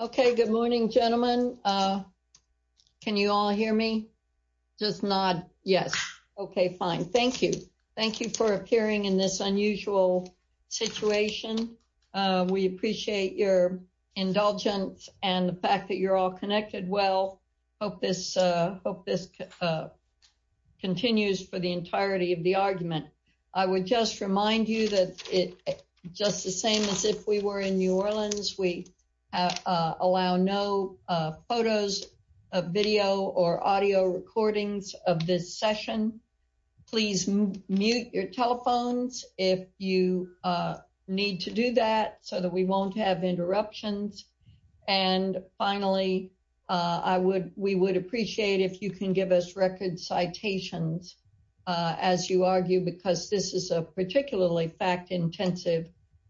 Okay, good morning, gentlemen. Can you all hear me? Just not? Yes. Okay, fine. Thank you. Thank you for appearing in this unusual situation. We appreciate your indulgence and the fact that you're all connected. Well, hope this hope this continues for the entirety of the argument. I would just remind you that it just the same as if we were in New Orleans, we allow no photos of video or audio recordings of this session. Please mute your telephones if you need to do that so that we won't have interruptions. And finally, I would we would citations, as you argue, because this is a particularly fact intensive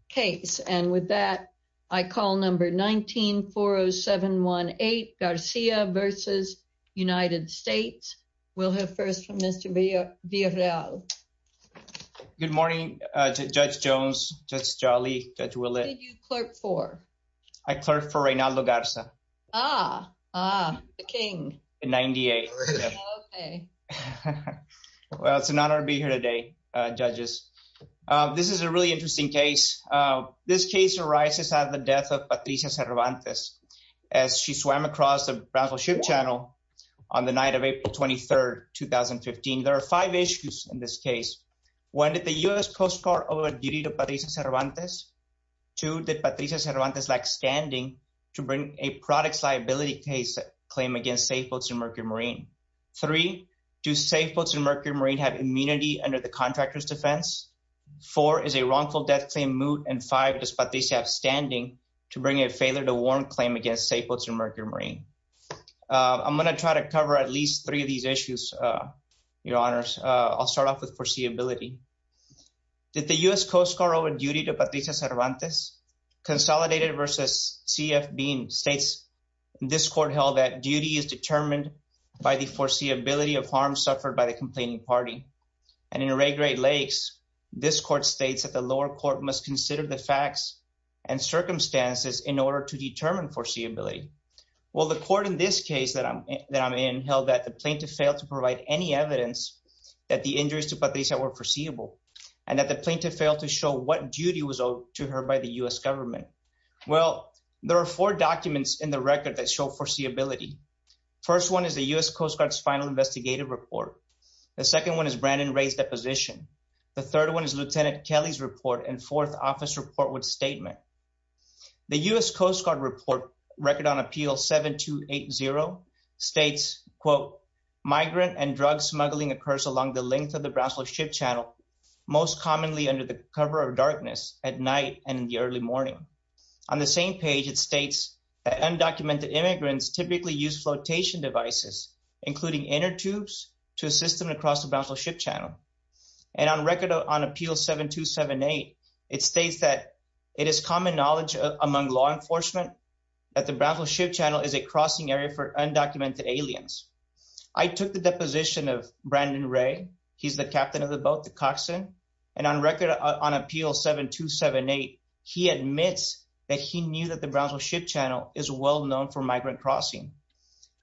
case. And with that, I call number 1940718 Garcia versus United States. We'll have first from Mr. Villarreal. Good morning, Judge Jones, Judge Jolly, Judge Willett. Who did you clerk for? I clerked for Reinaldo Garza. Ah, ah, the king. In 98. OK. Well, it's an honor to be here today, judges. This is a really interesting case. This case arises out of the death of Patricia Cervantes as she swam across the Brownsville Ship Channel on the night of April 23rd, 2015. There are five issues in this case. One, did the U.S. Coast Guard owe a duty to Patricia Cervantes? Two, did Patricia Cervantes lack standing to bring a products liability case claim against Safeboats and Mercury Marine? Three, do Safeboats and Mercury Marine have immunity under the contractor's defense? Four, is a wrongful death claim moot? And five, does Patricia have standing to bring a failure to warrant claim against Safeboats and Mercury Marine? I'm going to try to cover at least three of these issues, your honors. I'll start off with foreseeability. Did the U.S. Coast Guard owe a duty to Patricia Cervantes? Consolidated versus C.F. Bean states this court held that duty is determined by the foreseeability of harm suffered by the complaining party. And in Ray Great Lakes, this court states that the lower court must consider the facts and circumstances in order to determine foreseeability. Well, the court in this case that I'm in held that the plaintiff failed to provide any evidence that the injuries to Patricia were foreseeable and that the plaintiff failed to show what duty was owed to her by the U.S. government. Well, there are four documents in the record that show foreseeability. First one is the U.S. Coast Guard's final investigative report. The second one is Brandon Ray's deposition. The third one is Lieutenant Kelly's report and fourth office report with statement. The U.S. Coast Guard report record on appeal 7280 states, quote, migrant and drug smuggling occurs along the length of the Brownsville Ship Channel, most commonly under the cover of darkness at night and in the early morning. On the same page, it states that undocumented immigrants typically use flotation devices, including inner tubes, to assist them to cross the Brownsville Ship Channel. And on record on appeal 7278, it states that it is common knowledge among law enforcement that the Brownsville Ship Channel is a crossing area for undocumented aliens. I took the deposition of Brandon Ray. He's the captain of the boat, the Coxson. And on record on appeal 7278, he admits that he knew that the Brownsville Ship Channel is well known for migrant crossing.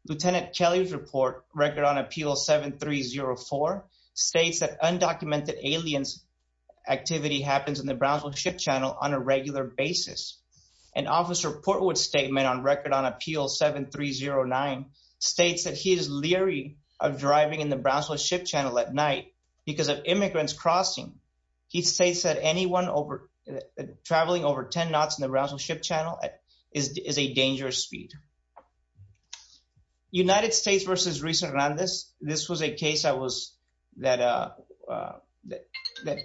Lieutenant Kelly's report record on appeal 7304 states that undocumented aliens activity happens in the Brownsville Ship Channel on a regular basis. And officer Portwood's statement on record on appeal 7309 states that he is leery of driving in the Brownsville Ship Channel at night because of immigrants crossing. He states that anyone over traveling over 10 knots in the Brownsville Ship Channel is a dangerous speed. United States versus Risa Hernandez. This was a case that was that that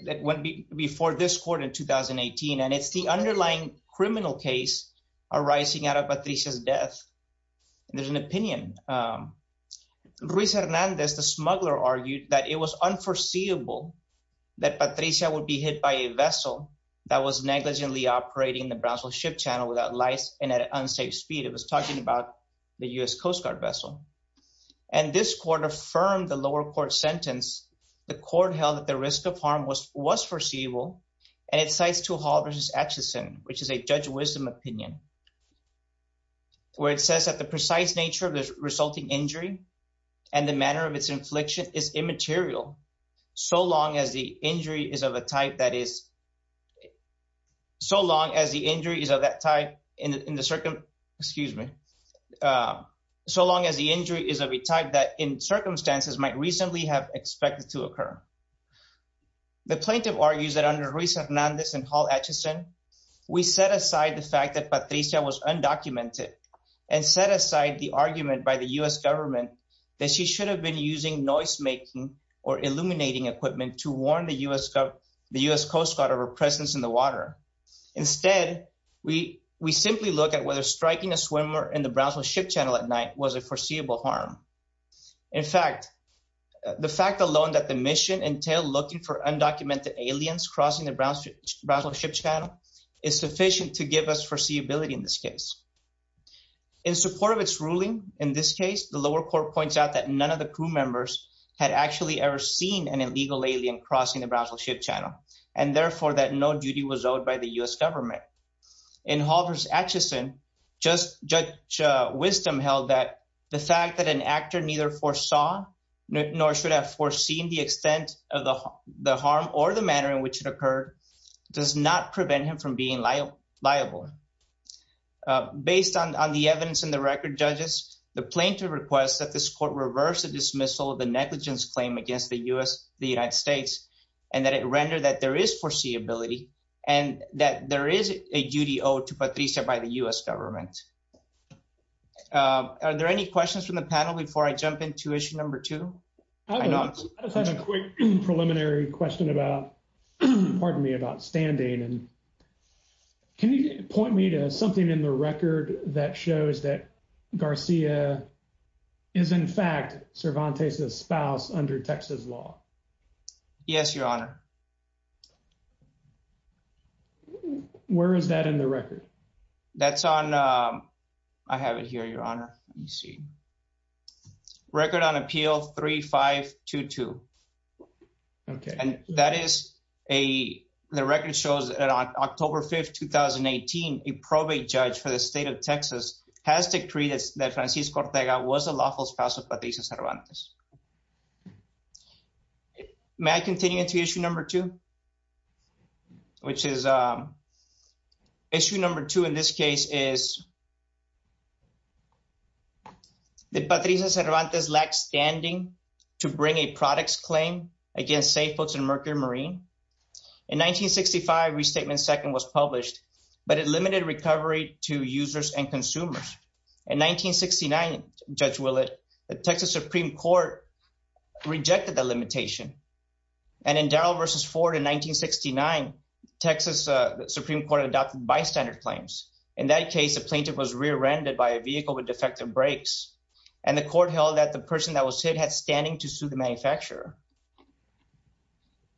that went before this in 2018. And it's the underlying criminal case arising out of Patricia's death. There's an opinion. Risa Hernandez, the smuggler argued that it was unforeseeable that Patricia would be hit by a vessel that was negligently operating the Brownsville Ship Channel without lights and at unsafe speed. It was talking about the U.S. Coast Guard vessel. And this court affirmed the lower court sentence. The court held that the risk of harm was foreseeable and it cites to Hall versus Atchison, which is a judge wisdom opinion. Where it says that the precise nature of the resulting injury and the manner of its infliction is immaterial so long as the injury is of a type that is so long as the injury is of that type in the circum excuse me so long as the injury is of a type that in circumstances might reasonably have expected to occur. The plaintiff argues that under Risa Hernandez and Hall Atchison we set aside the fact that Patricia was undocumented and set aside the argument by the U.S. government that she should have been using noise making or illuminating equipment to warn the U.S. the U.S. Coast Guard of her presence in the water. Instead we we simply look at whether striking a swimmer in the Brownsville Ship Channel at night was a foreseeable harm. In fact the fact alone that the mission entailed looking for undocumented aliens crossing the Brownsville Ship Channel is sufficient to give us foreseeability in this case. In support of its ruling in this case the lower court points out that none of the crew members had actually ever seen an illegal alien crossing the Brownsville Ship Channel and therefore that no duty was owed by the U.S. government. In Hall versus Atchison just judge wisdom held that the fact that an actor neither foresaw nor should have foreseen the extent of the harm or the manner in which it occurred does not prevent him from being liable. Based on the evidence in the record judges the plaintiff requests that this court reverse the dismissal of the negligence claim against the U.S. the United States and that it rendered that there is foreseeability and that there is a duty owed to Patricia by the U.S. government. Are there any questions from the panel before I jump into issue number two? I know I just have a quick preliminary question about pardon me about standing and can you point me to something in the record that shows that Garcia is in fact Cervantes's spouse under Texas law? Yes your honor. Where is that in the record? That's on I have it here your honor let me see record on appeal 3522 okay and that is a the record shows that on October 5th 2018 a probate judge for the state of Texas has decreed that Francisco Ortega was a lawful spouse of Patricia Cervantes. May I continue to issue number two which is issue number two in this case is that Patricia Cervantes lacked standing to bring a products claim against safe boats and mercury marine. In 1965 restatement second was published but it limited recovery to users and consumers. In 1969 Judge Willett the Texas Supreme Court rejected the limitation and in Darrell versus Ford in 1969 Texas Supreme Court adopted bystander claims. In that case the plaintiff was rear-ended by a vehicle with defective brakes and the court held that the person that was hit had standing to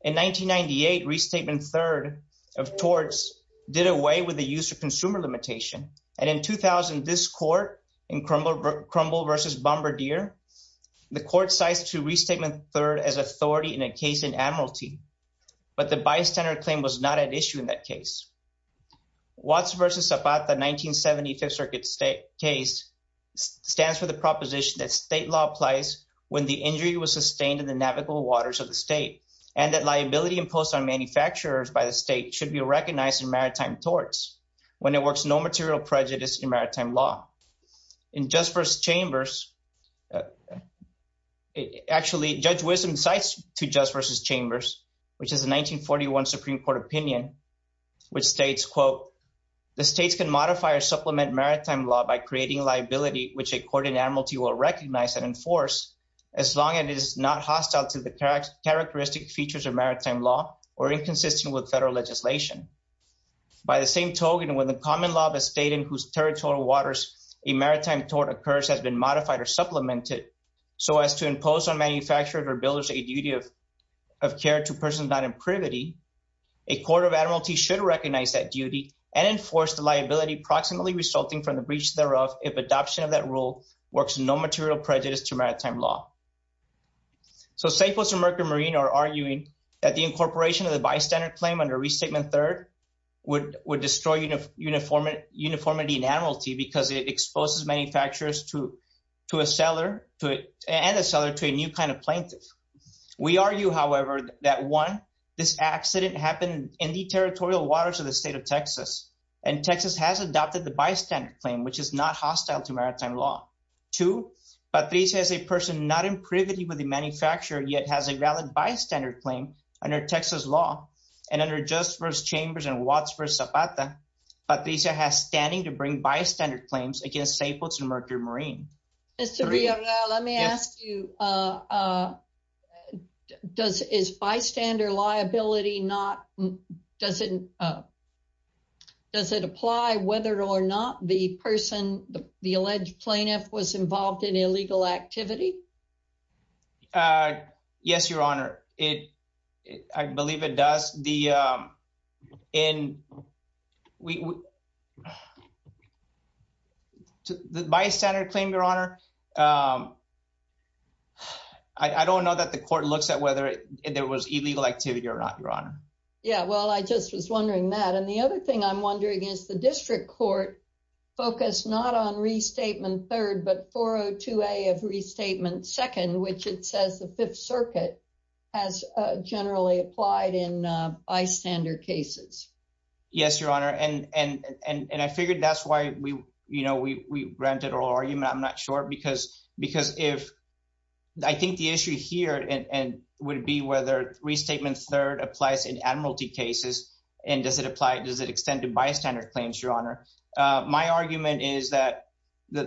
In 1998 restatement third of torts did away with the use of consumer limitation and in 2000 this court in crumble crumble versus bombardier the court cites to restatement third as authority in a case in Admiralty but the bystander claim was not at issue in that case. Watts versus Zapata 1975 circuit state case stands for the proposition that state law applies when the injury was imposed on manufacturers by the state should be recognized in maritime torts when it works no material prejudice in maritime law in just first chambers actually judge wisdom cites to just versus chambers which is a 1941 supreme court opinion which states quote the states can modify or supplement maritime law by creating liability which a court in Admiralty will recognize and enforce as long as it is not hostile to the characteristic features of maritime law or inconsistent with federal legislation by the same token when the common law of a state in whose territorial waters a maritime tort occurs has been modified or supplemented so as to impose on manufacturers or builders a duty of care to persons not in privity a court of Admiralty should recognize that duty and enforce the liability proximately resulting from the breach thereof if adoption of that rule works no material prejudice to maritime law so Staples and Mercury Marine are arguing that the incorporation of the bystander claim under re-statement third would would destroy uniform uniformity in Admiralty because it exposes manufacturers to to a seller to and a seller to a new kind of plaintiff we argue however that one this accident happened in the territorial waters of the state of Texas and Texas has adopted the bystander claim which is not hostile to maritime law two Patricia is a person not in privity with the manufacturer yet has a valid bystander claim under Texas law and under just first chambers and Watts versus Zapata Patricia has standing to bring bystander claims against Staples and Mercury Marine. Mr. Villarreal let me ask you uh uh does is bystander liability not does it uh does it apply whether or not the person the alleged plaintiff was involved in illegal activity uh yes your honor it I believe it does the um in we the bystander claim your honor um I don't know that the court looks at whether there was illegal activity or not your honor yeah well I just was wondering that and the other thing I'm wondering is the district court focused not on restatement third but 402a of restatement second which it bystander cases yes your honor and and and and I figured that's why we you know we we granted oral argument I'm not sure because because if I think the issue here and and would be whether restatement third applies in admiralty cases and does it apply does it extend to bystander claims your honor uh my argument is that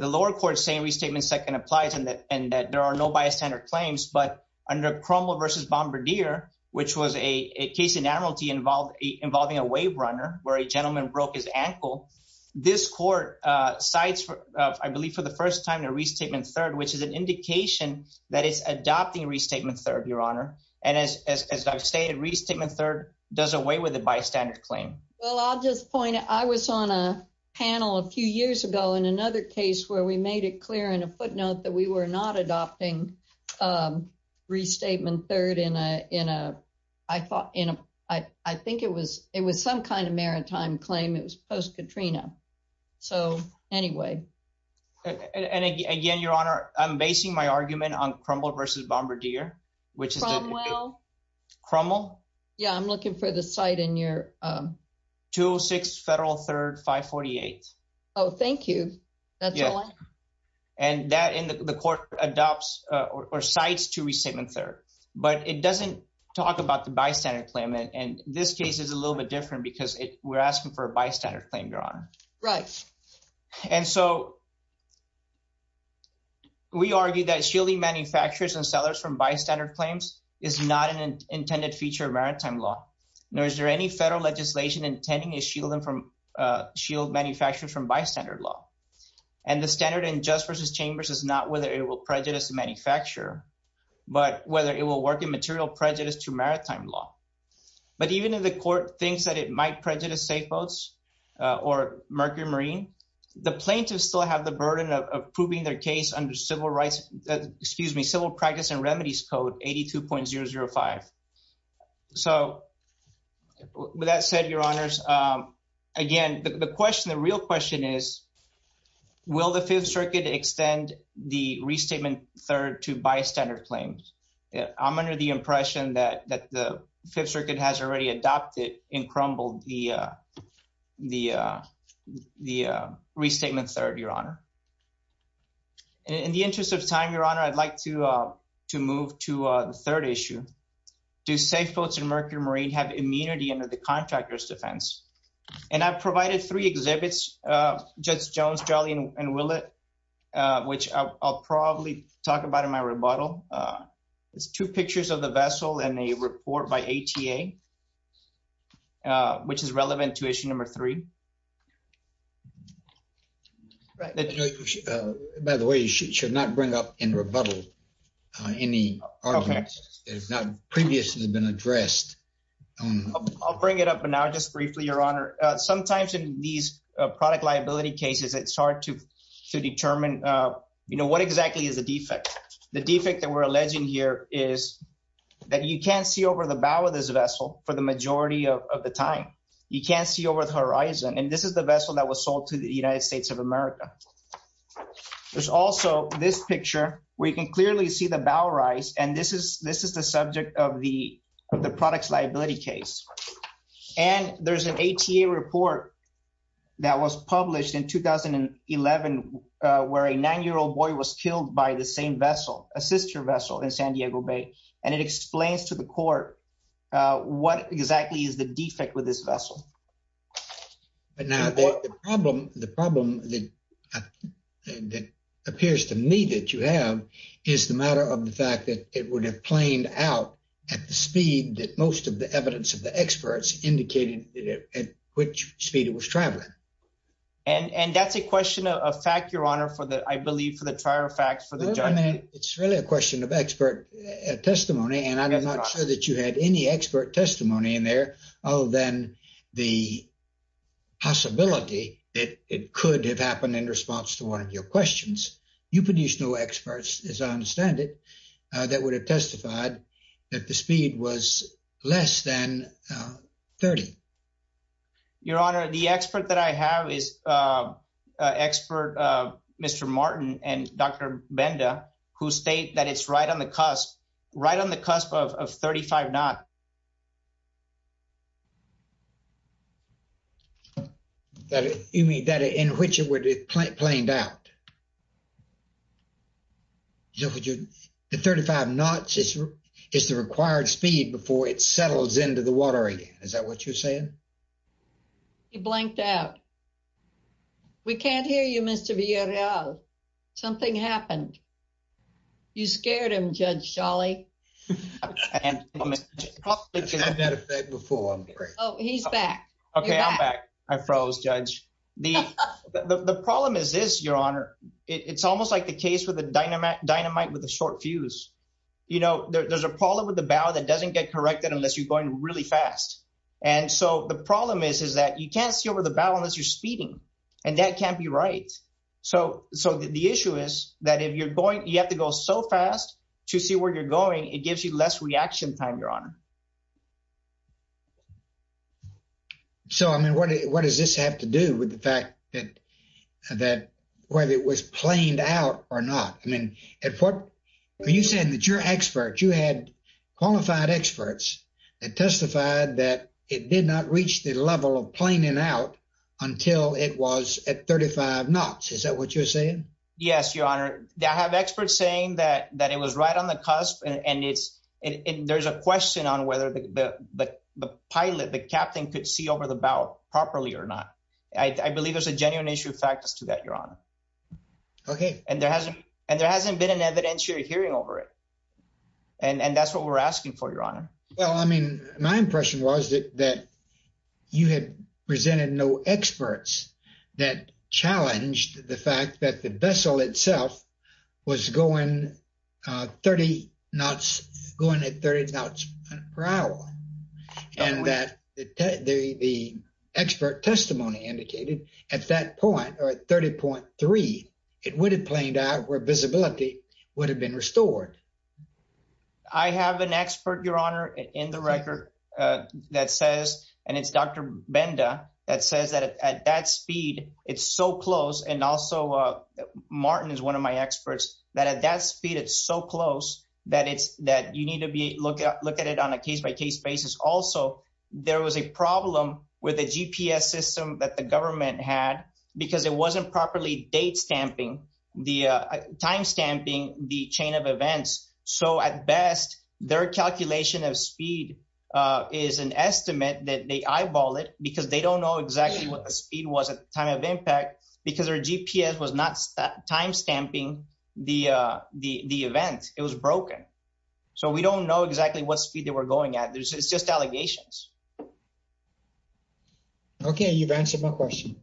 the lower court saying restatement second applies and that and that there are no bystander claims but under Cromwell versus Bombardier which was a case in admiralty involved involving a wave runner where a gentleman broke his ankle this court uh cites for I believe for the first time a restatement third which is an indication that it's adopting restatement third your honor and as as I've stated restatement third doesn't weigh with the bystander claim well I'll just point I was on a panel a few years ago in another case where we made it clear in a footnote that we were not adopting um restatement third in in a I thought in a I I think it was it was some kind of maritime claim it was post-Katrina so anyway and again your honor I'm basing my argument on Cromwell versus Bombardier which is well Cromwell yeah I'm looking for the site in your um 206 federal third 548 oh thank you that's all and that in the court adopts uh or cites to restatement third but it doesn't talk about the bystander claim and this case is a little bit different because we're asking for a bystander claim your honor right and so we argue that shielding manufacturers and sellers from bystander claims is not an intended feature of maritime law nor is there any federal legislation intending is shielding from uh shield manufacturers from bystander law and the standard in just versus chambers is not whether it will prejudice the manufacturer but whether it will work in material prejudice to maritime law but even if the court thinks that it might prejudice safe boats uh or mercury marine the plaintiffs still have the burden of approving their case under civil rights excuse me civil practice and remedies code 82.005 so with that said your honors um again the question the real question is will the fifth circuit extend the restatement third to bystander claims i'm under the impression that that the fifth circuit has already adopted in crumble the uh the uh the uh restatement third your honor in the interest of time your honor i'd like to uh to move to uh the third issue do safe boats and mercury marine have immunity under the uh judge jones jolly and willett uh which i'll probably talk about in my rebuttal uh it's two pictures of the vessel and a report by ata uh which is relevant to issue number three by the way you should not bring up in rebuttal any arguments that have not previously been addressed i'll bring it up but now just briefly your honor sometimes in these product liability cases it's hard to to determine uh you know what exactly is the defect the defect that we're alleging here is that you can't see over the bow of this vessel for the majority of the time you can't see over the horizon and this is the vessel that was sold to the united states of america there's also this picture where you can clearly see the bow rise and this is this is the subject of the of the product's liability case and there's an ata report that was published in 2011 uh where a nine-year-old boy was killed by the same vessel a sister vessel in san diego bay and it explains to the court uh what exactly is the defect with this vessel but now the problem the problem that that appears to me that you have is the matter of the fact that it would have planed out at the speed that most of the evidence of the experts indicated at which speed it was traveling and and that's a question of fact your honor for the i believe for the prior facts for the judgment it's really a question of expert testimony and i'm not sure that you had any expert testimony in there other than the possibility that it could have happened in response to one of your questions you produced no experts as i understand it uh that would have testified that the speed was less than 30 your honor the expert that i have is uh expert uh mr martin and dr benda who state that it's right on the cusp right on the cusp of the 35 knots is the required speed before it settles into the water again is that what you're saying he blanked out we can't hear you mr vrl something happened you scared him judge shawley oh he's back okay i'm back i froze judge the the problem is this your honor it's almost like the dynamite with a short fuse you know there's a problem with the bow that doesn't get corrected unless you're going really fast and so the problem is is that you can't see over the bow unless you're speeding and that can't be right so so the issue is that if you're going you have to go so fast to see where you're going it gives you less reaction time your honor so i mean what what does this have to do with the fact that that whether it was planed out or not i mean at what you said that your expert you had qualified experts that testified that it did not reach the level of planing out until it was at 35 knots is that what you're saying yes your honor i have experts saying that that it was right on the cusp and it's and there's a question on whether the the pilot the captain could see over the bow properly or not i i believe there's a genuine issue of factors to that your honor okay and there hasn't and there hasn't been an evidence you're hearing over it and and that's what we're asking for your honor well i mean my impression was that that you had presented no experts that challenged the fact that the vessel itself was going uh 30 knots going at 30 knots per hour and that the the expert testimony indicated at that point or at 30.3 it would have planed out where visibility would have been restored i have an expert your honor in the record uh that says and it's dr benda that says that at that speed it's so close and also uh martin is one of my also there was a problem with the gps system that the government had because it wasn't properly date stamping the uh time stamping the chain of events so at best their calculation of speed is an estimate that they eyeball it because they don't know exactly what the speed was at the time of impact because their gps was not time stamping the uh the the event it was broken so we don't know exactly what speed they were going at this it's just allegations okay you've answered my question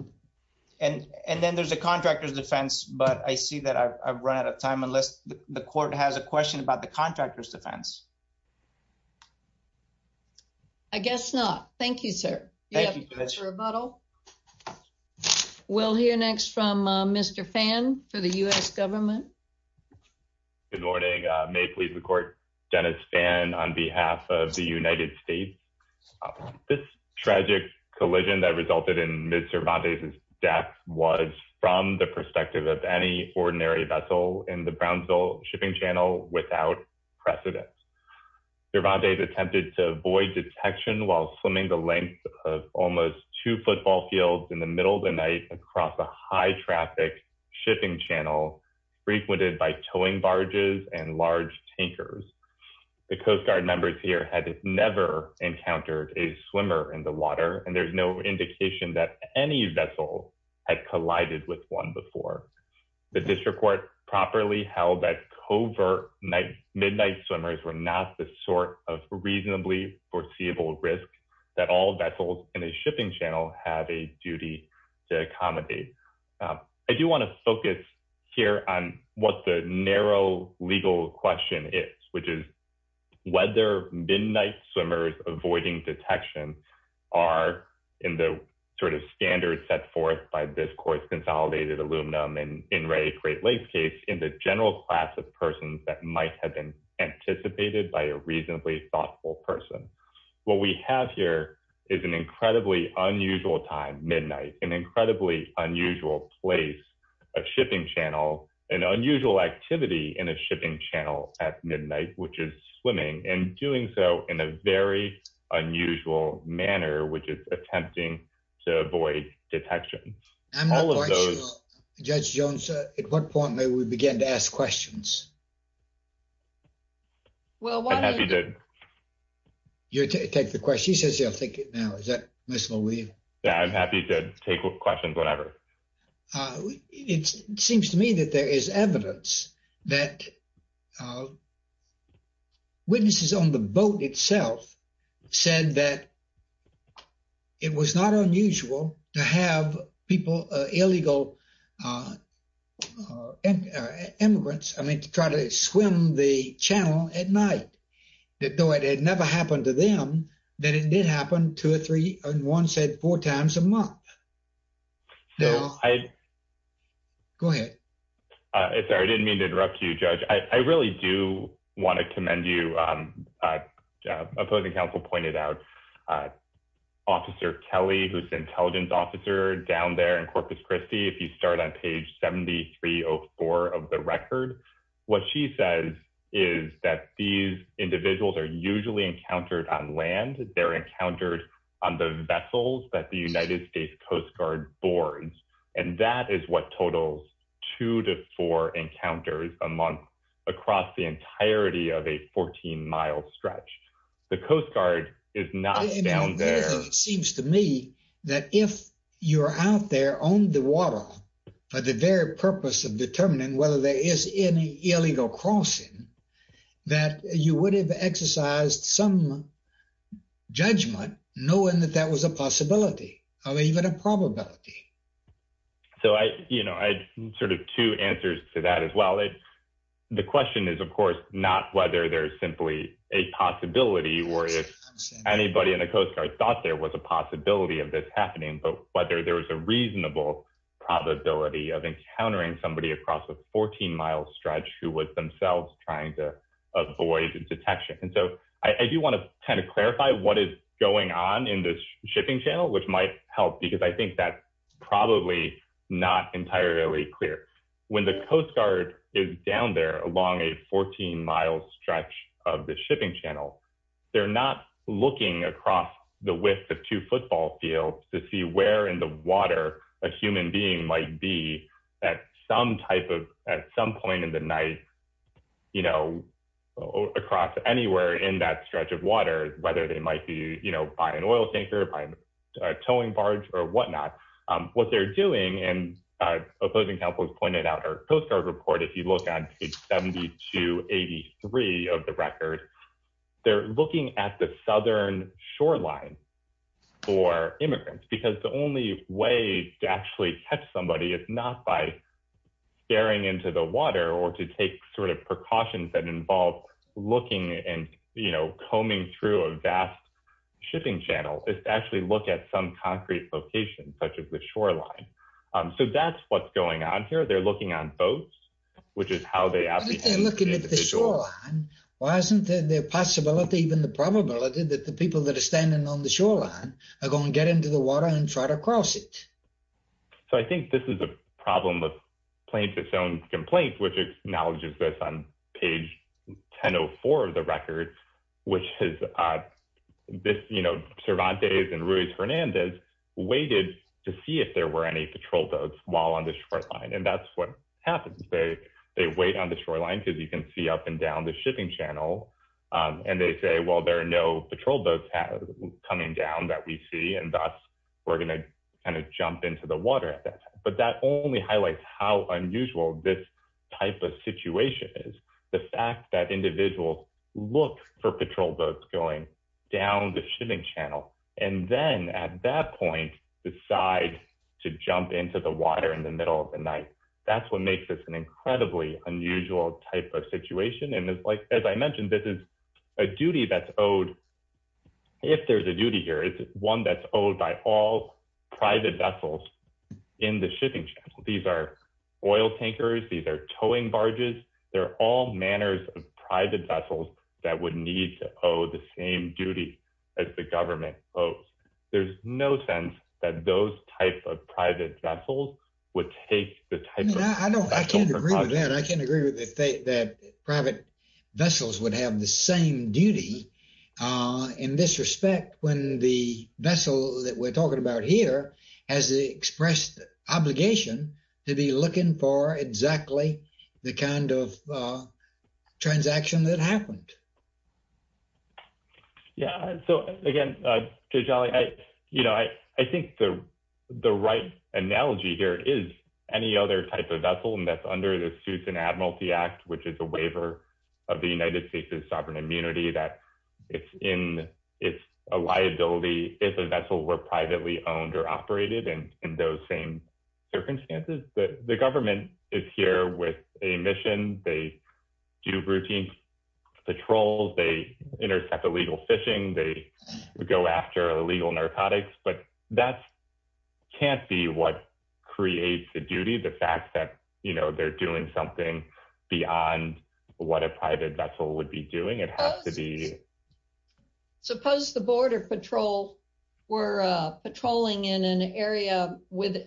and and then there's a contractor's defense but i see that i've run out of time unless the court has a question about the contractor's defense i guess not thank you sir we'll hear next from uh mr fan for the u.s government good morning uh may please record dennis fan on behalf of the united states this tragic collision that resulted in mr van de's death was from the perspective of any ordinary vessel in the brownsville shipping channel without precedence sir van de's attempted to avoid detection while swimming the length of almost two football fields in the middle of the night across a high traffic shipping channel frequented by towing barges and large tankers the coast guard members here had never encountered a swimmer in the water and there's no indication that any vessel had collided with one before the district court properly held that covert night midnight swimmers were not the sort of reasonably foreseeable risk that all vessels in a shipping channel have a duty to accommodate i do want to focus here on what the narrow legal question is which is whether midnight swimmers avoiding detection are in the sort of standard set forth by this court's consolidated aluminum and in ray great lakes case in the general class of persons that might have been anticipated by a reasonably thoughtful person what we have here is an incredibly unusual time midnight an incredibly unusual place a shipping channel an unusual activity in a shipping channel at midnight which is swimming and doing so in a very unusual manner which is attempting to avoid detection i'm all of those judge jones at what point may we begin to yeah i'm happy to take questions whatever it seems to me that there is evidence that witnesses on the boat itself said that it was not unusual to have people illegal immigrants i mean to try to swim the channel at night that though it had never happened to them that it did happen two or three and one said four times a month no i go ahead uh i'm sorry i didn't mean to interrupt you judge i i really do want to commend you um uh opposing counsel pointed out uh officer kelly who's intelligence officer down there in corpus christi if you start on page 7304 of the record what she says is that these individuals are usually encountered on land they're encountered on the vessels that the united states coast guard boards and that is what totals two to four encounters a month across the entirety of a 14 mile stretch the coast guard is not down there it seems to me that if you're out there on the water for the very purpose of determining whether there is any illegal crossing that you would have exercised some judgment knowing that that was a possibility of even a probability so i you know i had sort of two answers to that as well the question is of course not whether there's simply a possibility or if anybody in the coast guard thought there was a possibility of this happening but whether there was a reasonable probability of encountering somebody across a 14 mile stretch who was themselves trying to avoid detection and so i do want to kind of clarify what is going on in this shipping channel which might help because i think that probably not entirely clear when the coast guard is down there along a 14 mile stretch of the shipping channel they're not looking across the width of two football fields to see where in the at some point in the night you know across anywhere in that stretch of water whether they might be you know by an oil tanker by a towing barge or whatnot what they're doing and opposing camp was pointed out our coast guard report if you look at page 72 83 of the record they're looking at the southern shoreline for immigrants because the only way to actually catch somebody is not by staring into the water or to take sort of precautions that involve looking and you know combing through a vast shipping channel is to actually look at some concrete location such as the shoreline um so that's what's going on here they're looking on boats which is how they look at the shoreline why isn't there the possibility even the probability that the people that are standing on the shoreline are going to get into the water and try to cross it so i think this is a problem of plaintiff's own complaint which acknowledges this on page 1004 of the record which has uh this you know cervantes and ruiz hernandez waited to see if there were any patrol boats while on the shoreline and that's what happens they they wait on the shoreline because you can see up and down the shipping channel um and they say well there are no patrol boats coming down that we see and thus we're going to kind of jump into the water at that but that only highlights how unusual this type of situation is the fact that individuals look for patrol boats going down the shipping channel and then at that point decide to jump into the water in the middle of the night that's what makes this an incredibly unusual type of situation and like as i mentioned this is a duty that's owed if there's a duty here it's one that's owed by all private vessels in the shipping channel these are oil tankers these are towing barges they're all manners of private vessels that would need to owe the same duty as the government oh there's no sense that those type of private vessels would take the type of i know i vessels would have the same duty uh in this respect when the vessel that we're talking about here has expressed obligation to be looking for exactly the kind of transaction that happened yeah so again uh you know i i think the the right analogy here is any other type of vessel and that's the suits and admiralty act which is a waiver of the united states's sovereign immunity that it's in it's a liability if a vessel were privately owned or operated and in those same circumstances but the government is here with a mission they do routine patrols they intercept illegal fishing they go after illegal narcotics but that can't be what creates the duty the fact that you know they're doing something beyond what a private vessel would be doing it has to be suppose the border patrol were uh patrolling in an area with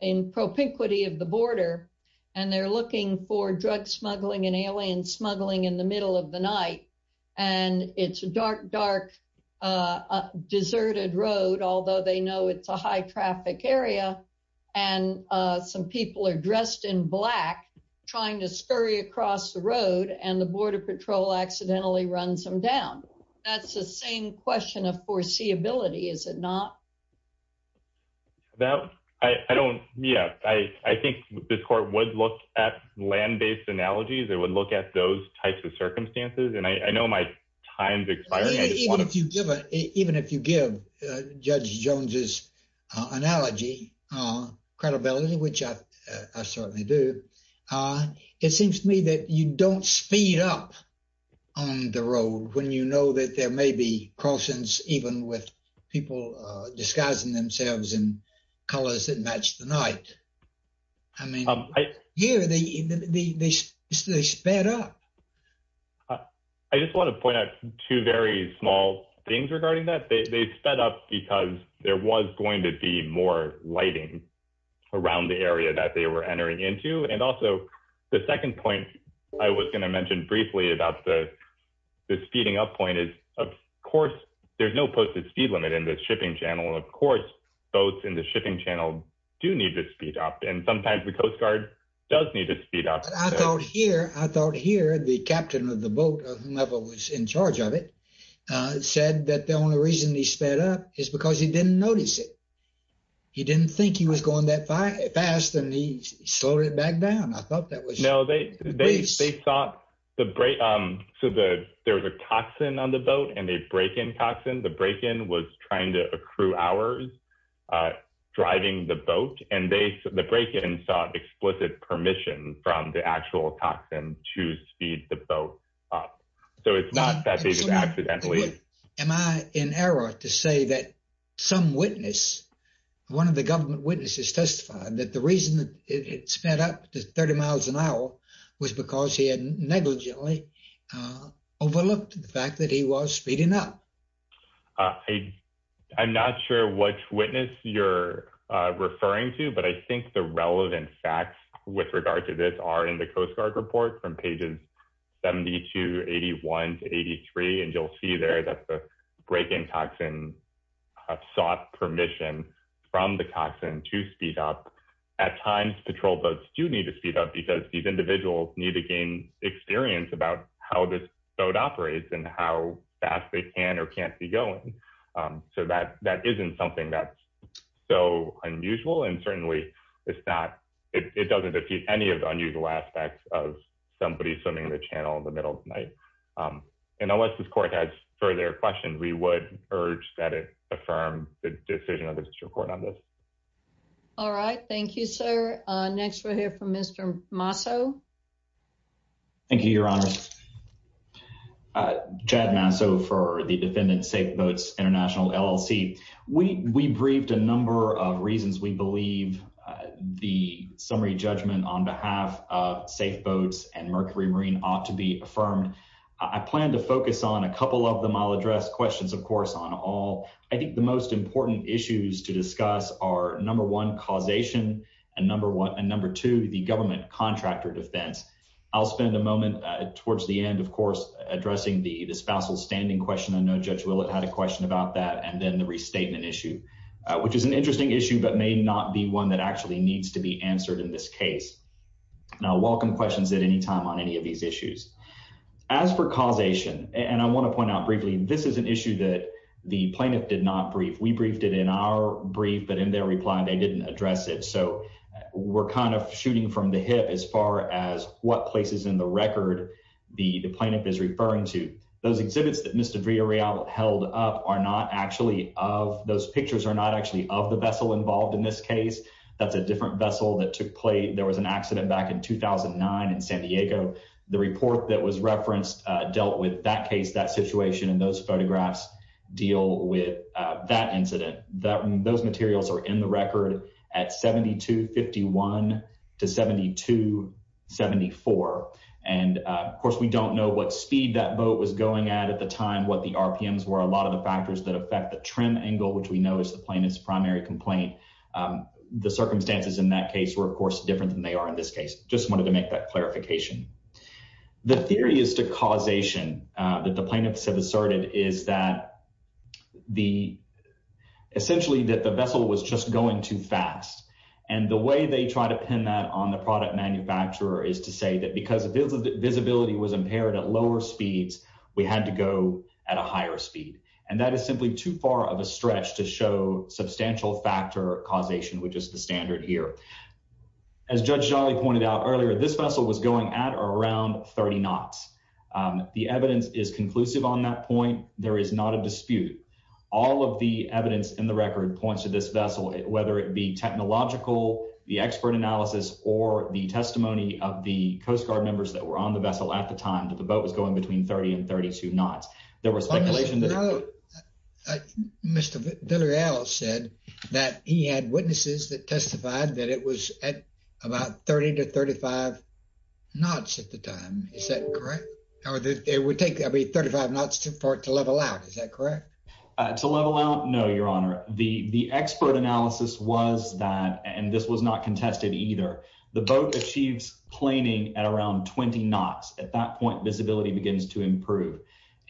in propinquity of the border and they're looking for drug smuggling and alien smuggling in the middle of the night and it's a dark dark uh deserted road although they know it's a high traffic area and uh some people are dressed in black trying to scurry across the road and the border patrol accidentally runs them down that's the same question of foreseeability is it not that i i don't yeah i i think this court would look at land-based analogies it would look at those types of circumstances and i i know my time's expiring even if you give it even if you give uh judge jones's analogy uh credibility which i i certainly do uh it seems to me that you don't speed up on the road when you know that there may be crossings even with people uh disguising themselves in colors that match the night i mean here they they they sped up uh i just want to point out two very small things regarding that they they sped up because there was going to be more lighting around the area that they were entering into and also the second point i was going to mention briefly about the the speeding up point is of course there's no posted speed limit in the shipping channel of course boats in the shipping channel do need to speed up and sometimes the coast guard does need to speed up i don't hear i don't hear the captain of the boat or whomever was in charge of it uh said that the only reason he sped up is because he didn't notice it he didn't think he was going that fast and he slowed it back down i thought that was no they they thought the break um so the there was a toxin on the boat and a break-in toxin the break-in was trying to accrue hours uh driving the boat and they the break-in sought explicit permission from the actual toxin to speed the boat up so it's not that they just accidentally am i in error to say that some witness one of the government witnesses testified that the reason that it sped up to 30 miles an hour was because he had negligently uh overlooked the fact that he was speeding up i i'm not sure which witness you're uh referring to but i think the relevant facts with regard to this are in the coast guard report from pages 70 to 81 to 83 and you'll see there that the break-in toxin sought permission from the toxin to speed up at times patrol boats do need to speed up because these individuals need to gain experience about how this boat operates and how fast they can or can't be going um so that that isn't something that's so unusual and certainly it's not it doesn't defeat any of the unusual aspects of somebody swimming the channel in the middle of the night um and unless this court has further questions we would urge that it affirm the decision of the district court on this all right thank you sir uh next we'll hear from mr maso thank you your honor uh chad maso for the defendant safe boats international llc we we briefed a number of reasons we believe uh the summary judgment on behalf of safe boats and mercury marine ought to be affirmed i plan to focus on a couple of them i'll address questions of course on all i think the most important issues to discuss are number one causation and number one and number two the government contractor defense i'll spend a moment towards the end of course addressing the the spousal standing question i know judge willett had a question about that and then the restatement issue which is an interesting issue but may not be one that actually needs to be answered in this case and i'll welcome questions at any time on any of these issues as for causation and i want to point out briefly this is an issue that the plaintiff did not brief we briefed it in our brief but in their reply they didn't address it so we're kind of shooting from the hip as far as what places in the record the the plaintiff is are not actually of those pictures are not actually of the vessel involved in this case that's a different vessel that took place there was an accident back in 2009 in san diego the report that was referenced dealt with that case that situation and those photographs deal with that incident that those materials are in the record at 7251 to 7274 and of course we don't know what speed that boat was going at at the time what the rpms were a lot of the factors that affect the trim angle which we know is the plaintiff's primary complaint the circumstances in that case were of course different than they are in this case just wanted to make that clarification the theory is to causation that the plaintiffs have asserted is that the essentially that the vessel was just going too fast and the way they try to pin that on the product manufacturer is to say that because of visibility was impaired at lower speeds we had to go at a higher speed and that is simply too far of a stretch to show substantial factor causation which is the standard here as judge jolly pointed out earlier this vessel was going at or around 30 knots the evidence is conclusive on that point there is not a dispute all of the evidence in the record points to this coast guard members that were on the vessel at the time that the boat was going between 30 and 32 knots there was speculation that mr villareal said that he had witnesses that testified that it was at about 30 to 35 knots at the time is that correct or that it would take every 35 knots to for it to level out is that correct uh to level out no your honor the the expert analysis was that and this was not contested either the boat achieves planing at around 20 knots at that point visibility begins to improve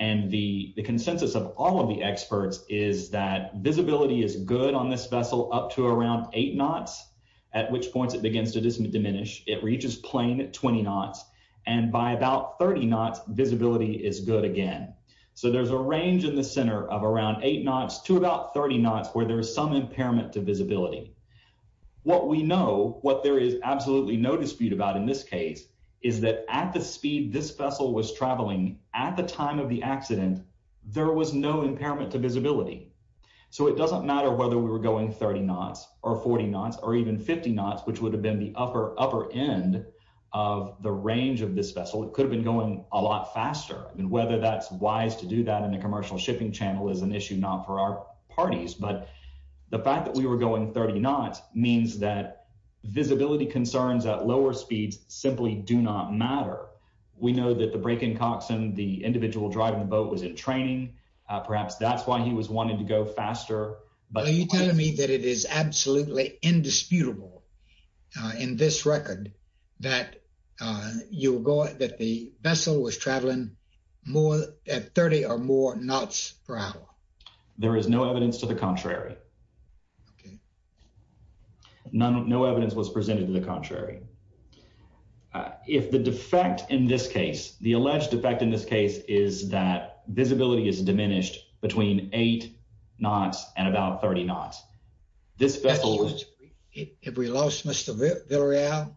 and the the consensus of all of the experts is that visibility is good on this vessel up to around eight knots at which points it begins to diminish it reaches plane at 20 knots and by about 30 knots visibility is good again so there's a range in the center of what we know what there is absolutely no dispute about in this case is that at the speed this vessel was traveling at the time of the accident there was no impairment to visibility so it doesn't matter whether we were going 30 knots or 40 knots or even 50 knots which would have been the upper upper end of the range of this vessel it could have been going a lot faster and whether that's wise to do that in the commercial shipping channel is an issue not for our parties but the fact that we were going 30 knots means that visibility concerns at lower speeds simply do not matter we know that the break-in coxswain the individual driving the boat was in training perhaps that's why he was wanting to go faster but are you telling me that it is absolutely indisputable uh in this record that uh you'll go that the vessel was traveling more at 30 or more knots per hour there is no evidence to the contrary okay none no evidence was presented to the contrary if the defect in this case the alleged effect in this case is that visibility is diminished between eight knots and about 30 knots this vessel if we lost mr villarreal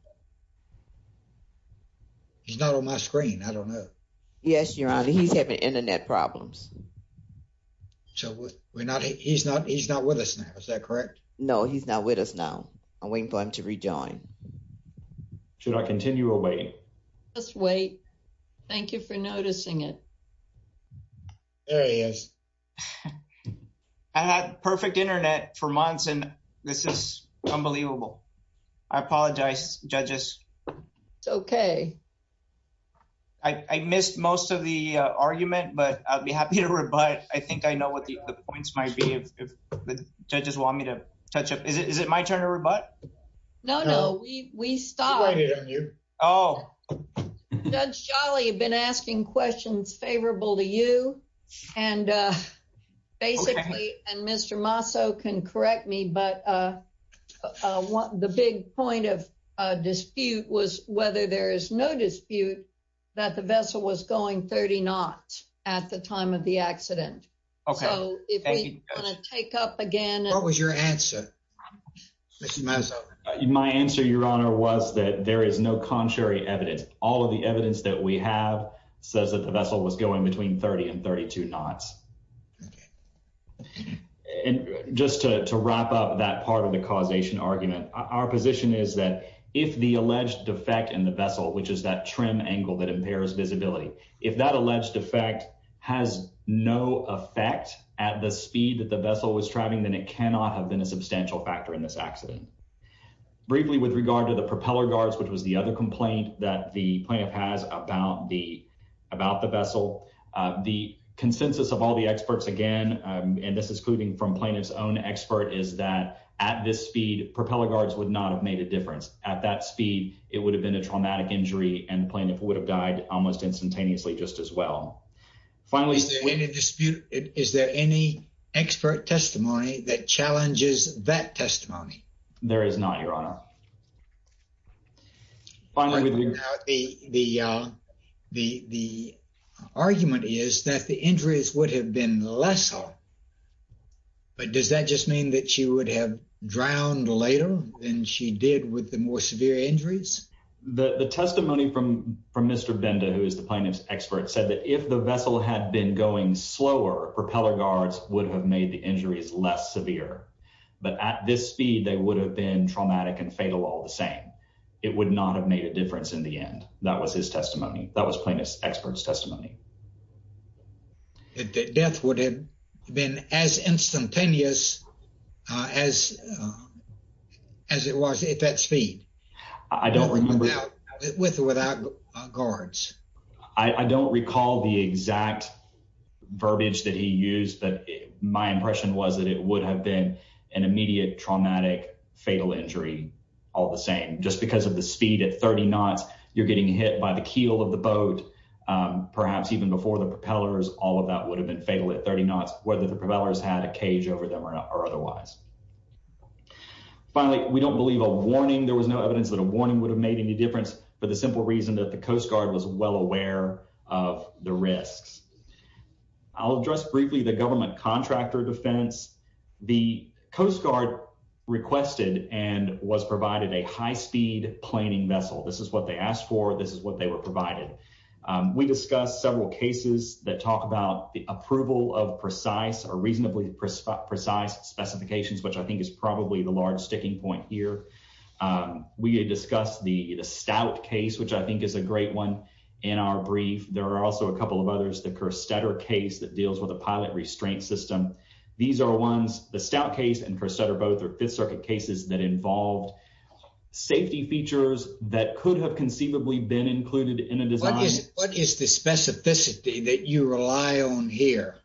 he's not on my screen i don't know yes your honor he's having internet problems so we're not he's not he's not with us now is that correct no he's not with us now i'm waiting for him to rejoin should i continue or wait just wait thank you for noticing it there he is i had perfect internet for months and this is unbelievable i apologize judges it's okay i i missed most of the uh argument but i'll be happy to rebut i think i know what the points might be if the judges want me to touch up is it is it my turn to rebut no no we we stopped oh judge jolly you've been asking questions favorable to you and uh basically and mr maso can correct me but uh uh what the big point of uh dispute was whether there is no dispute that the vessel was going 30 knots at the time of the accident okay so if we take up again what your answer mr my answer your honor was that there is no contrary evidence all of the evidence that we have says that the vessel was going between 30 and 32 knots okay and just to wrap up that part of the causation argument our position is that if the alleged defect in the vessel which is that trim angle that impairs visibility if that alleged effect has no effect at the speed the vessel was traveling then it cannot have been a substantial factor in this accident briefly with regard to the propeller guards which was the other complaint that the plaintiff has about the about the vessel the consensus of all the experts again and this is including from plaintiff's own expert is that at this speed propeller guards would not have made a difference at that speed it would have been a traumatic injury and plaintiff would have died almost that challenges that testimony there is not your honor finally the uh the the argument is that the injuries would have been less so but does that just mean that she would have drowned later than she did with the more severe injuries the the testimony from from mr benda who is the plaintiff's expert said that if the vessel had been going slower propeller guards would have made the injuries less severe but at this speed they would have been traumatic and fatal all the same it would not have made a difference in the end that was his testimony that was plaintiff's expert's testimony that death would have been as instantaneous uh as as it was at that speed i don't remember without guards i don't recall the exact verbiage that he used but my impression was that it would have been an immediate traumatic fatal injury all the same just because of the speed at 30 knots you're getting hit by the keel of the boat perhaps even before the propellers all of that would have been fatal at 30 knots whether the propellers had a cage over them or otherwise finally we don't believe a warning there was no evidence that a warning would have made any difference for the simple reason that the coast guard was well aware of the risks i'll address briefly the government contractor defense the coast guard requested and was provided a high speed planning vessel this is what they asked for this is what they were provided we discussed several cases that talk about the approval of precise or reasonably precise specifications which i think is probably the stout case which i think is a great one in our brief there are also a couple of others the kerstetter case that deals with a pilot restraint system these are ones the stout case and kerstetter both are fifth circuit cases that involved safety features that could have conceivably been included in a design what is the specificity that you rely on here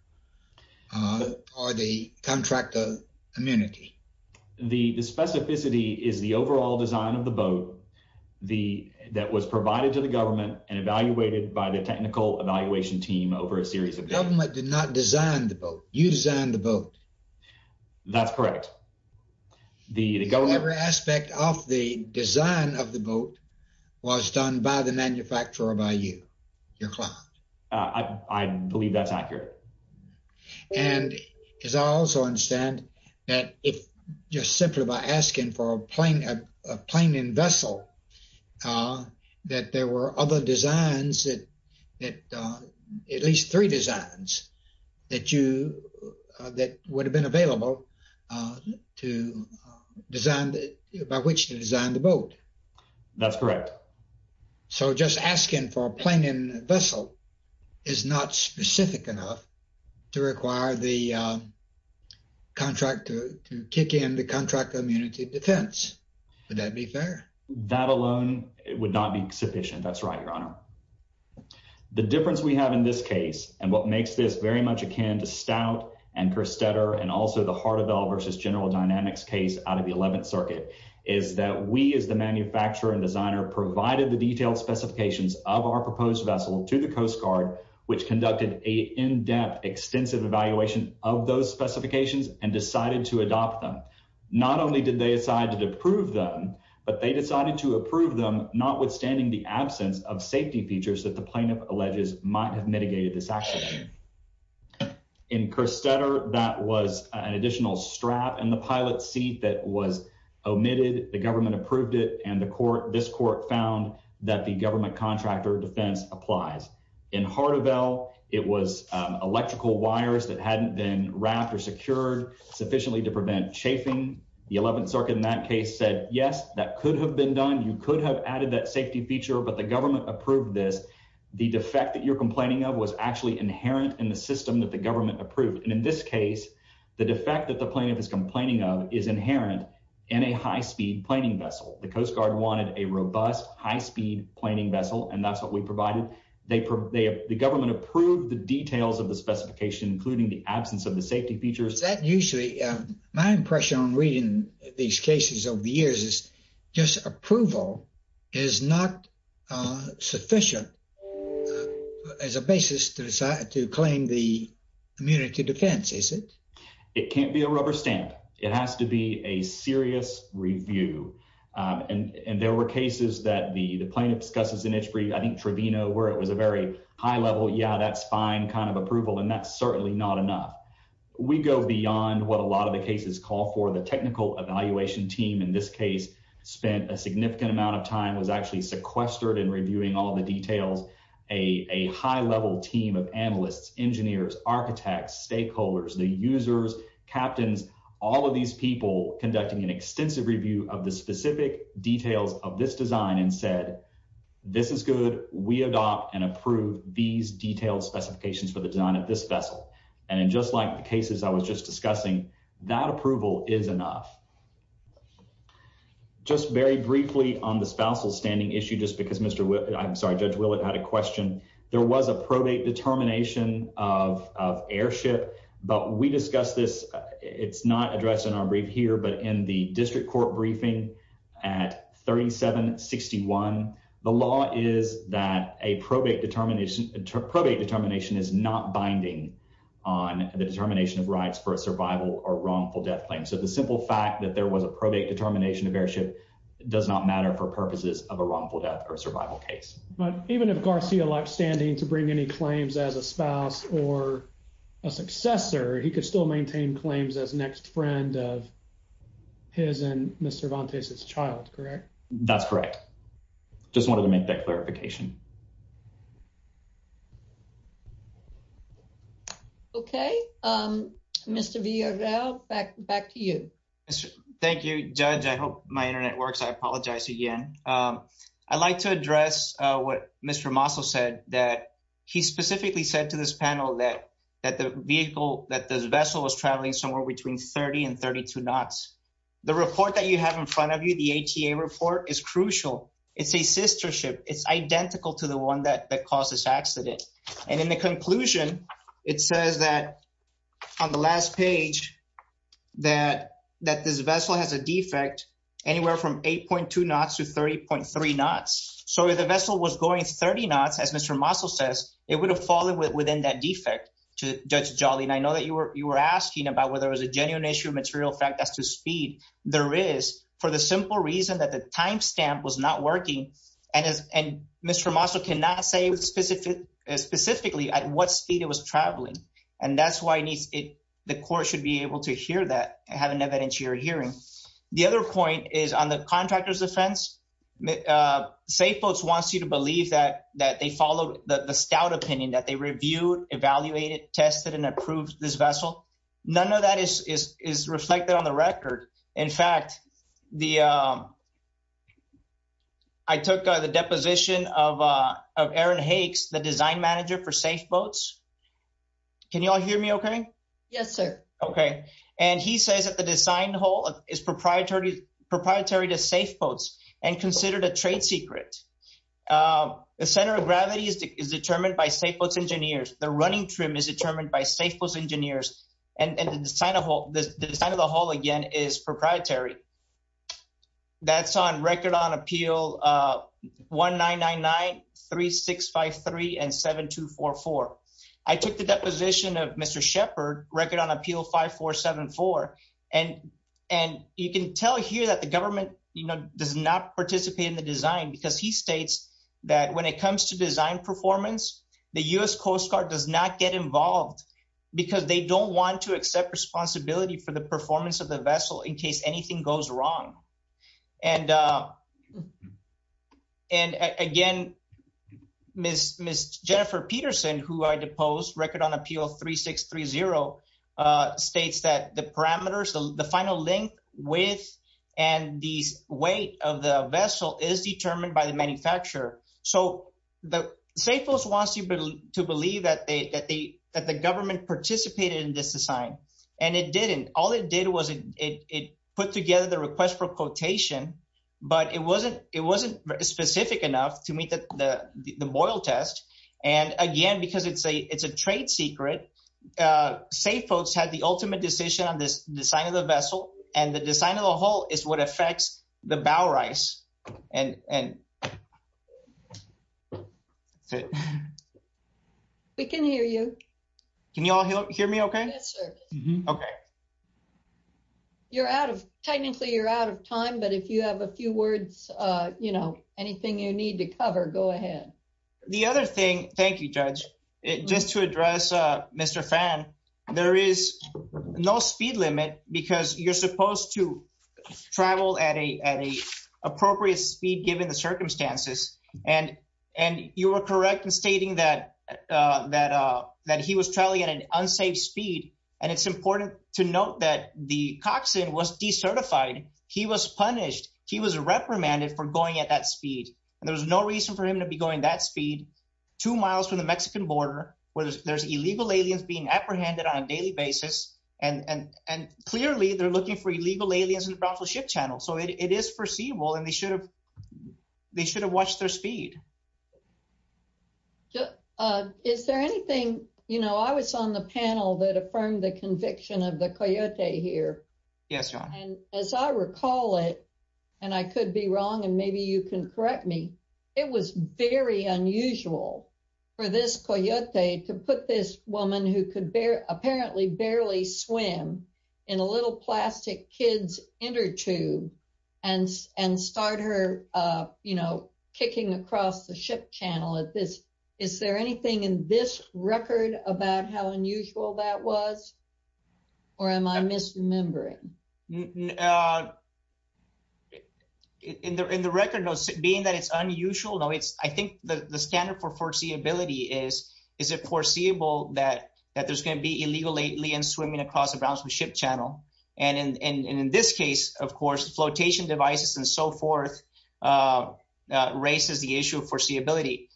uh or the contractor immunity the the specificity is the overall design of the boat the that was provided to the government and evaluated by the technical evaluation team over a series of government did not design the boat you designed the boat that's correct the the government aspect of the design of the boat was done by the manufacturer by you your client uh i i believe that's accurate and as i also understand that if just simply by asking for a plane a plane in vessel that there were other designs that that uh at least three designs that you uh that would have been available uh to design by which to design the boat that's correct so just asking for a plane in vessel is not specific enough to require the contractor to kick in the contract immunity defense would that be fair that alone it would not be sufficient that's right your honor the difference we have in this case and what makes this very much akin to stout and kerstetter and also the heart of l versus general dynamics case out of the 11th circuit is that we as the manufacturer and designer provided the detailed specifications of our proposed vessel to the coast guard which conducted a in-depth extensive evaluation of those specifications and decided to adopt them not only did they decide to deprove them but they decided to approve them not withstanding the absence of safety features that the plaintiff alleges might have mitigated this accident in kerstetter that was an additional strap and the pilot seat that was omitted the this court found that the government contractor defense applies in heart of l it was electrical wires that hadn't been wrapped or secured sufficiently to prevent chafing the 11th circuit in that case said yes that could have been done you could have added that safety feature but the government approved this the defect that you're complaining of was actually inherent in the system that the government approved and in this case the defect that the plaintiff is complaining of is inherent in a high-speed planning vessel the coast guard wanted a robust high-speed planning vessel and that's what we provided they the government approved the details of the specification including the absence of the safety features that usually my impression on reading these cases over the years is just approval is not uh sufficient as a basis to decide to claim the community defense is it it can't be a rubber stamp it has to be a serious review um and and there were cases that the the plaintiff discusses in itchbury i think trivino where it was a very high level yeah that's fine kind of approval and that's certainly not enough we go beyond what a lot of the cases call for the technical evaluation team in this case spent a significant amount of time was actually sequestered in reviewing all the details a a high level team of analysts engineers architects stakeholders the users captains all of these people conducting an extensive review of the specific details of this design and said this is good we adopt and approve these detailed specifications for the design of this vessel and in just like the cases i was just discussing that approval is enough just very briefly on the spousal standing issue just i'm sorry judge willett had a question there was a probate determination of of airship but we discussed this it's not addressed in our brief here but in the district court briefing at 3761 the law is that a probate determination probate determination is not binding on the determination of rights for a survival or wrongful death claim so the simple fact that there was a probate determination of airship does not matter for purposes of a wrongful death or survival case but even if garcia liked standing to bring any claims as a spouse or a successor he could still maintain claims as next friend of his and mr vantes's child correct that's correct just wanted to make that clarification okay um mr vio now back back to you thank you judge i hope my internet works i apologize again um i'd like to address uh what mr maso said that he specifically said to this panel that that the vehicle that this vessel was traveling somewhere between 30 and 32 knots the report that you have in front of you the ata report is crucial it's a sister ship it's identical to the one that that caused this accident and in the conclusion it says that on the last page that that this vessel has a defect anywhere from 8.2 knots to 30.3 knots so if the vessel was going 30 knots as mr maso says it would have fallen within that defect to judge jolly and i know that you were you were asking about whether it was a genuine issue material fact as to speed there is for the simple reason that the time stamp was not working and as and mr maso cannot say with specific specifically at what speed it was traveling and that's why it needs it the court should be able to hear that and have an evidentiary hearing the other point is on the contractor's defense safe boats wants you to believe that that they follow the the stout opinion that they reviewed evaluated tested and approved this vessel none of that is is is reflected on the record in fact the um i took the deposition of uh of aaron hakes the design manager for safe boats can you all hear me okay yes sir okay and he says that the design hole is proprietary proprietary to safe boats and considered a trade secret um the center of gravity is determined by safe boats engineers the running trim is determined by safe boats engineers and and the design of the design of the hall again is proprietary that's on record on appeal one nine nine nine three six five three and seven two four four i took the deposition of mr shepherd record on appeal five four seven four and and you can tell here that the government you know does not participate in the design because he states that when it comes to design performance the u.s coast guard does not get involved because they don't want to accept responsibility for the performance of the vessel in case anything goes wrong and uh and again miss miss jennifer peterson who i deposed record on appeal 3630 uh states that the parameters the final length width and these weight of the vessel is determined by the manufacturer so the safe folks wants you to believe that they that they that the government participated in this design and it didn't all it did was it it put together the request for quotation but it wasn't it wasn't specific enough to meet the the boil test and again because it's a it's a trade secret uh safe folks had the ultimate decision on this design of the vessel and the design of the hull is what affects the bow rice and and we can hear you can you all hear me okay yes sir okay you're out of technically you're out of time but if you have a few words uh you know anything you need to cover go ahead the other thing thank you judge it just to address uh mr fan there is no speed limit because you're supposed to travel at a at a appropriate speed given the circumstances and and you were correct in stating that uh that uh that he was traveling at an unsaved speed and it's important to note that the coxswain was decertified he was punished he was reprimanded for going at that speed and there was no reason for him to be going that speed two miles from the and and and clearly they're looking for illegal aliens in the brownfield ship channel so it is foreseeable and they should have they should have watched their speed is there anything you know i was on the panel that affirmed the conviction of the coyote here yes and as i recall it and i could be wrong and maybe you can correct me it was very unusual for this coyote to put this woman who could bear apparently barely swim in a little plastic kid's inner tube and and start her uh you know kicking across the ship channel at this is there anything in this record about how unusual that was or am i misremembering uh in the in the record notes being that it's unusual no it's i think the the standard for foreseeability is is it foreseeable that that there's going to be illegal lately and swimming across the brownsville ship channel and and and in this case of course flotation devices and so forth raises the issue of foreseeability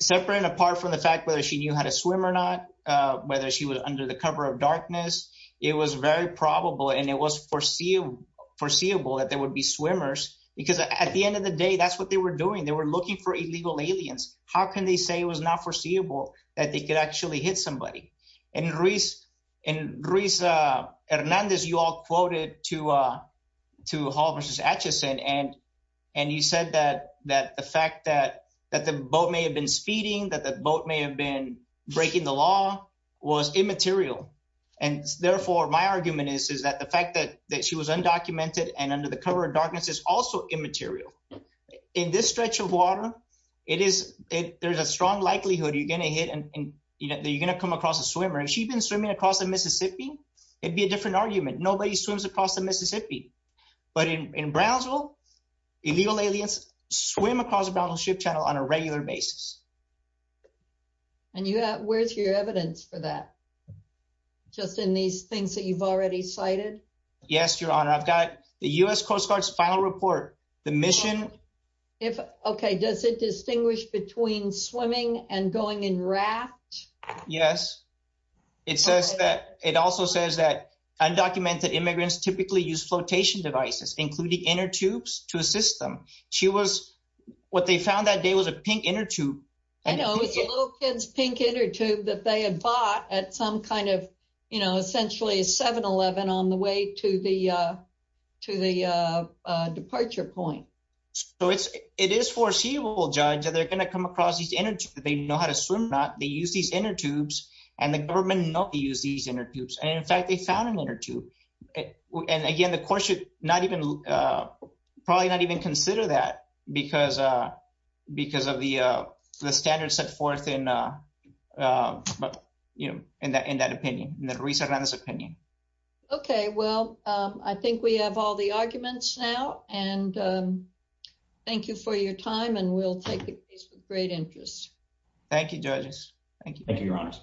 separate and apart from the fact whether she knew how to swim or not uh whether she was under the cover of darkness it was very probable and it was foreseeable foreseeable that there would be swimmers because at the end of the day that's what they were doing they were looking for illegal aliens how can they say it was not foreseeable that they could actually hit somebody and reese and reese uh hernandez you all quoted to uh to hall versus atchison and and you said that that the fact that that the boat may have been feeding that the boat may have been breaking the law was immaterial and therefore my argument is is that the fact that that she was undocumented and under the cover of darkness is also immaterial in this stretch of water it is it there's a strong likelihood you're going to hit and you know you're going to come across a swimmer if she'd been swimming across the mississippi it'd be a different argument nobody swims across the mississippi but in in brownsville illegal aliens swim across the brownsville ship channel on a regular basis and you have where's your evidence for that just in these things that you've already cited yes your honor i've got the u.s coast guard's final report the mission if okay does it distinguish between swimming and going in raft yes it says that it also says that undocumented immigrants typically use flotation devices including inner tubes to assist them she was what they found that day was a pink inner tube i know it was a little kid's pink inner tube that they had bought at some kind of you know essentially a 7-eleven on the way to the uh to the uh uh departure point so it's it is foreseeable judge that they're going to come across these energy they know how to swim not they use these inner tubes and the government nobody used these inner tubes and in fact they found an inner tube and again the court should not even uh probably not even consider that because uh because of the uh the standards set forth in uh but you know in that in that opinion in the recent opinion okay well um i think we have all the arguments now and um thank you for your time and we'll take the case with great interest thank you judges thank you thank you your honors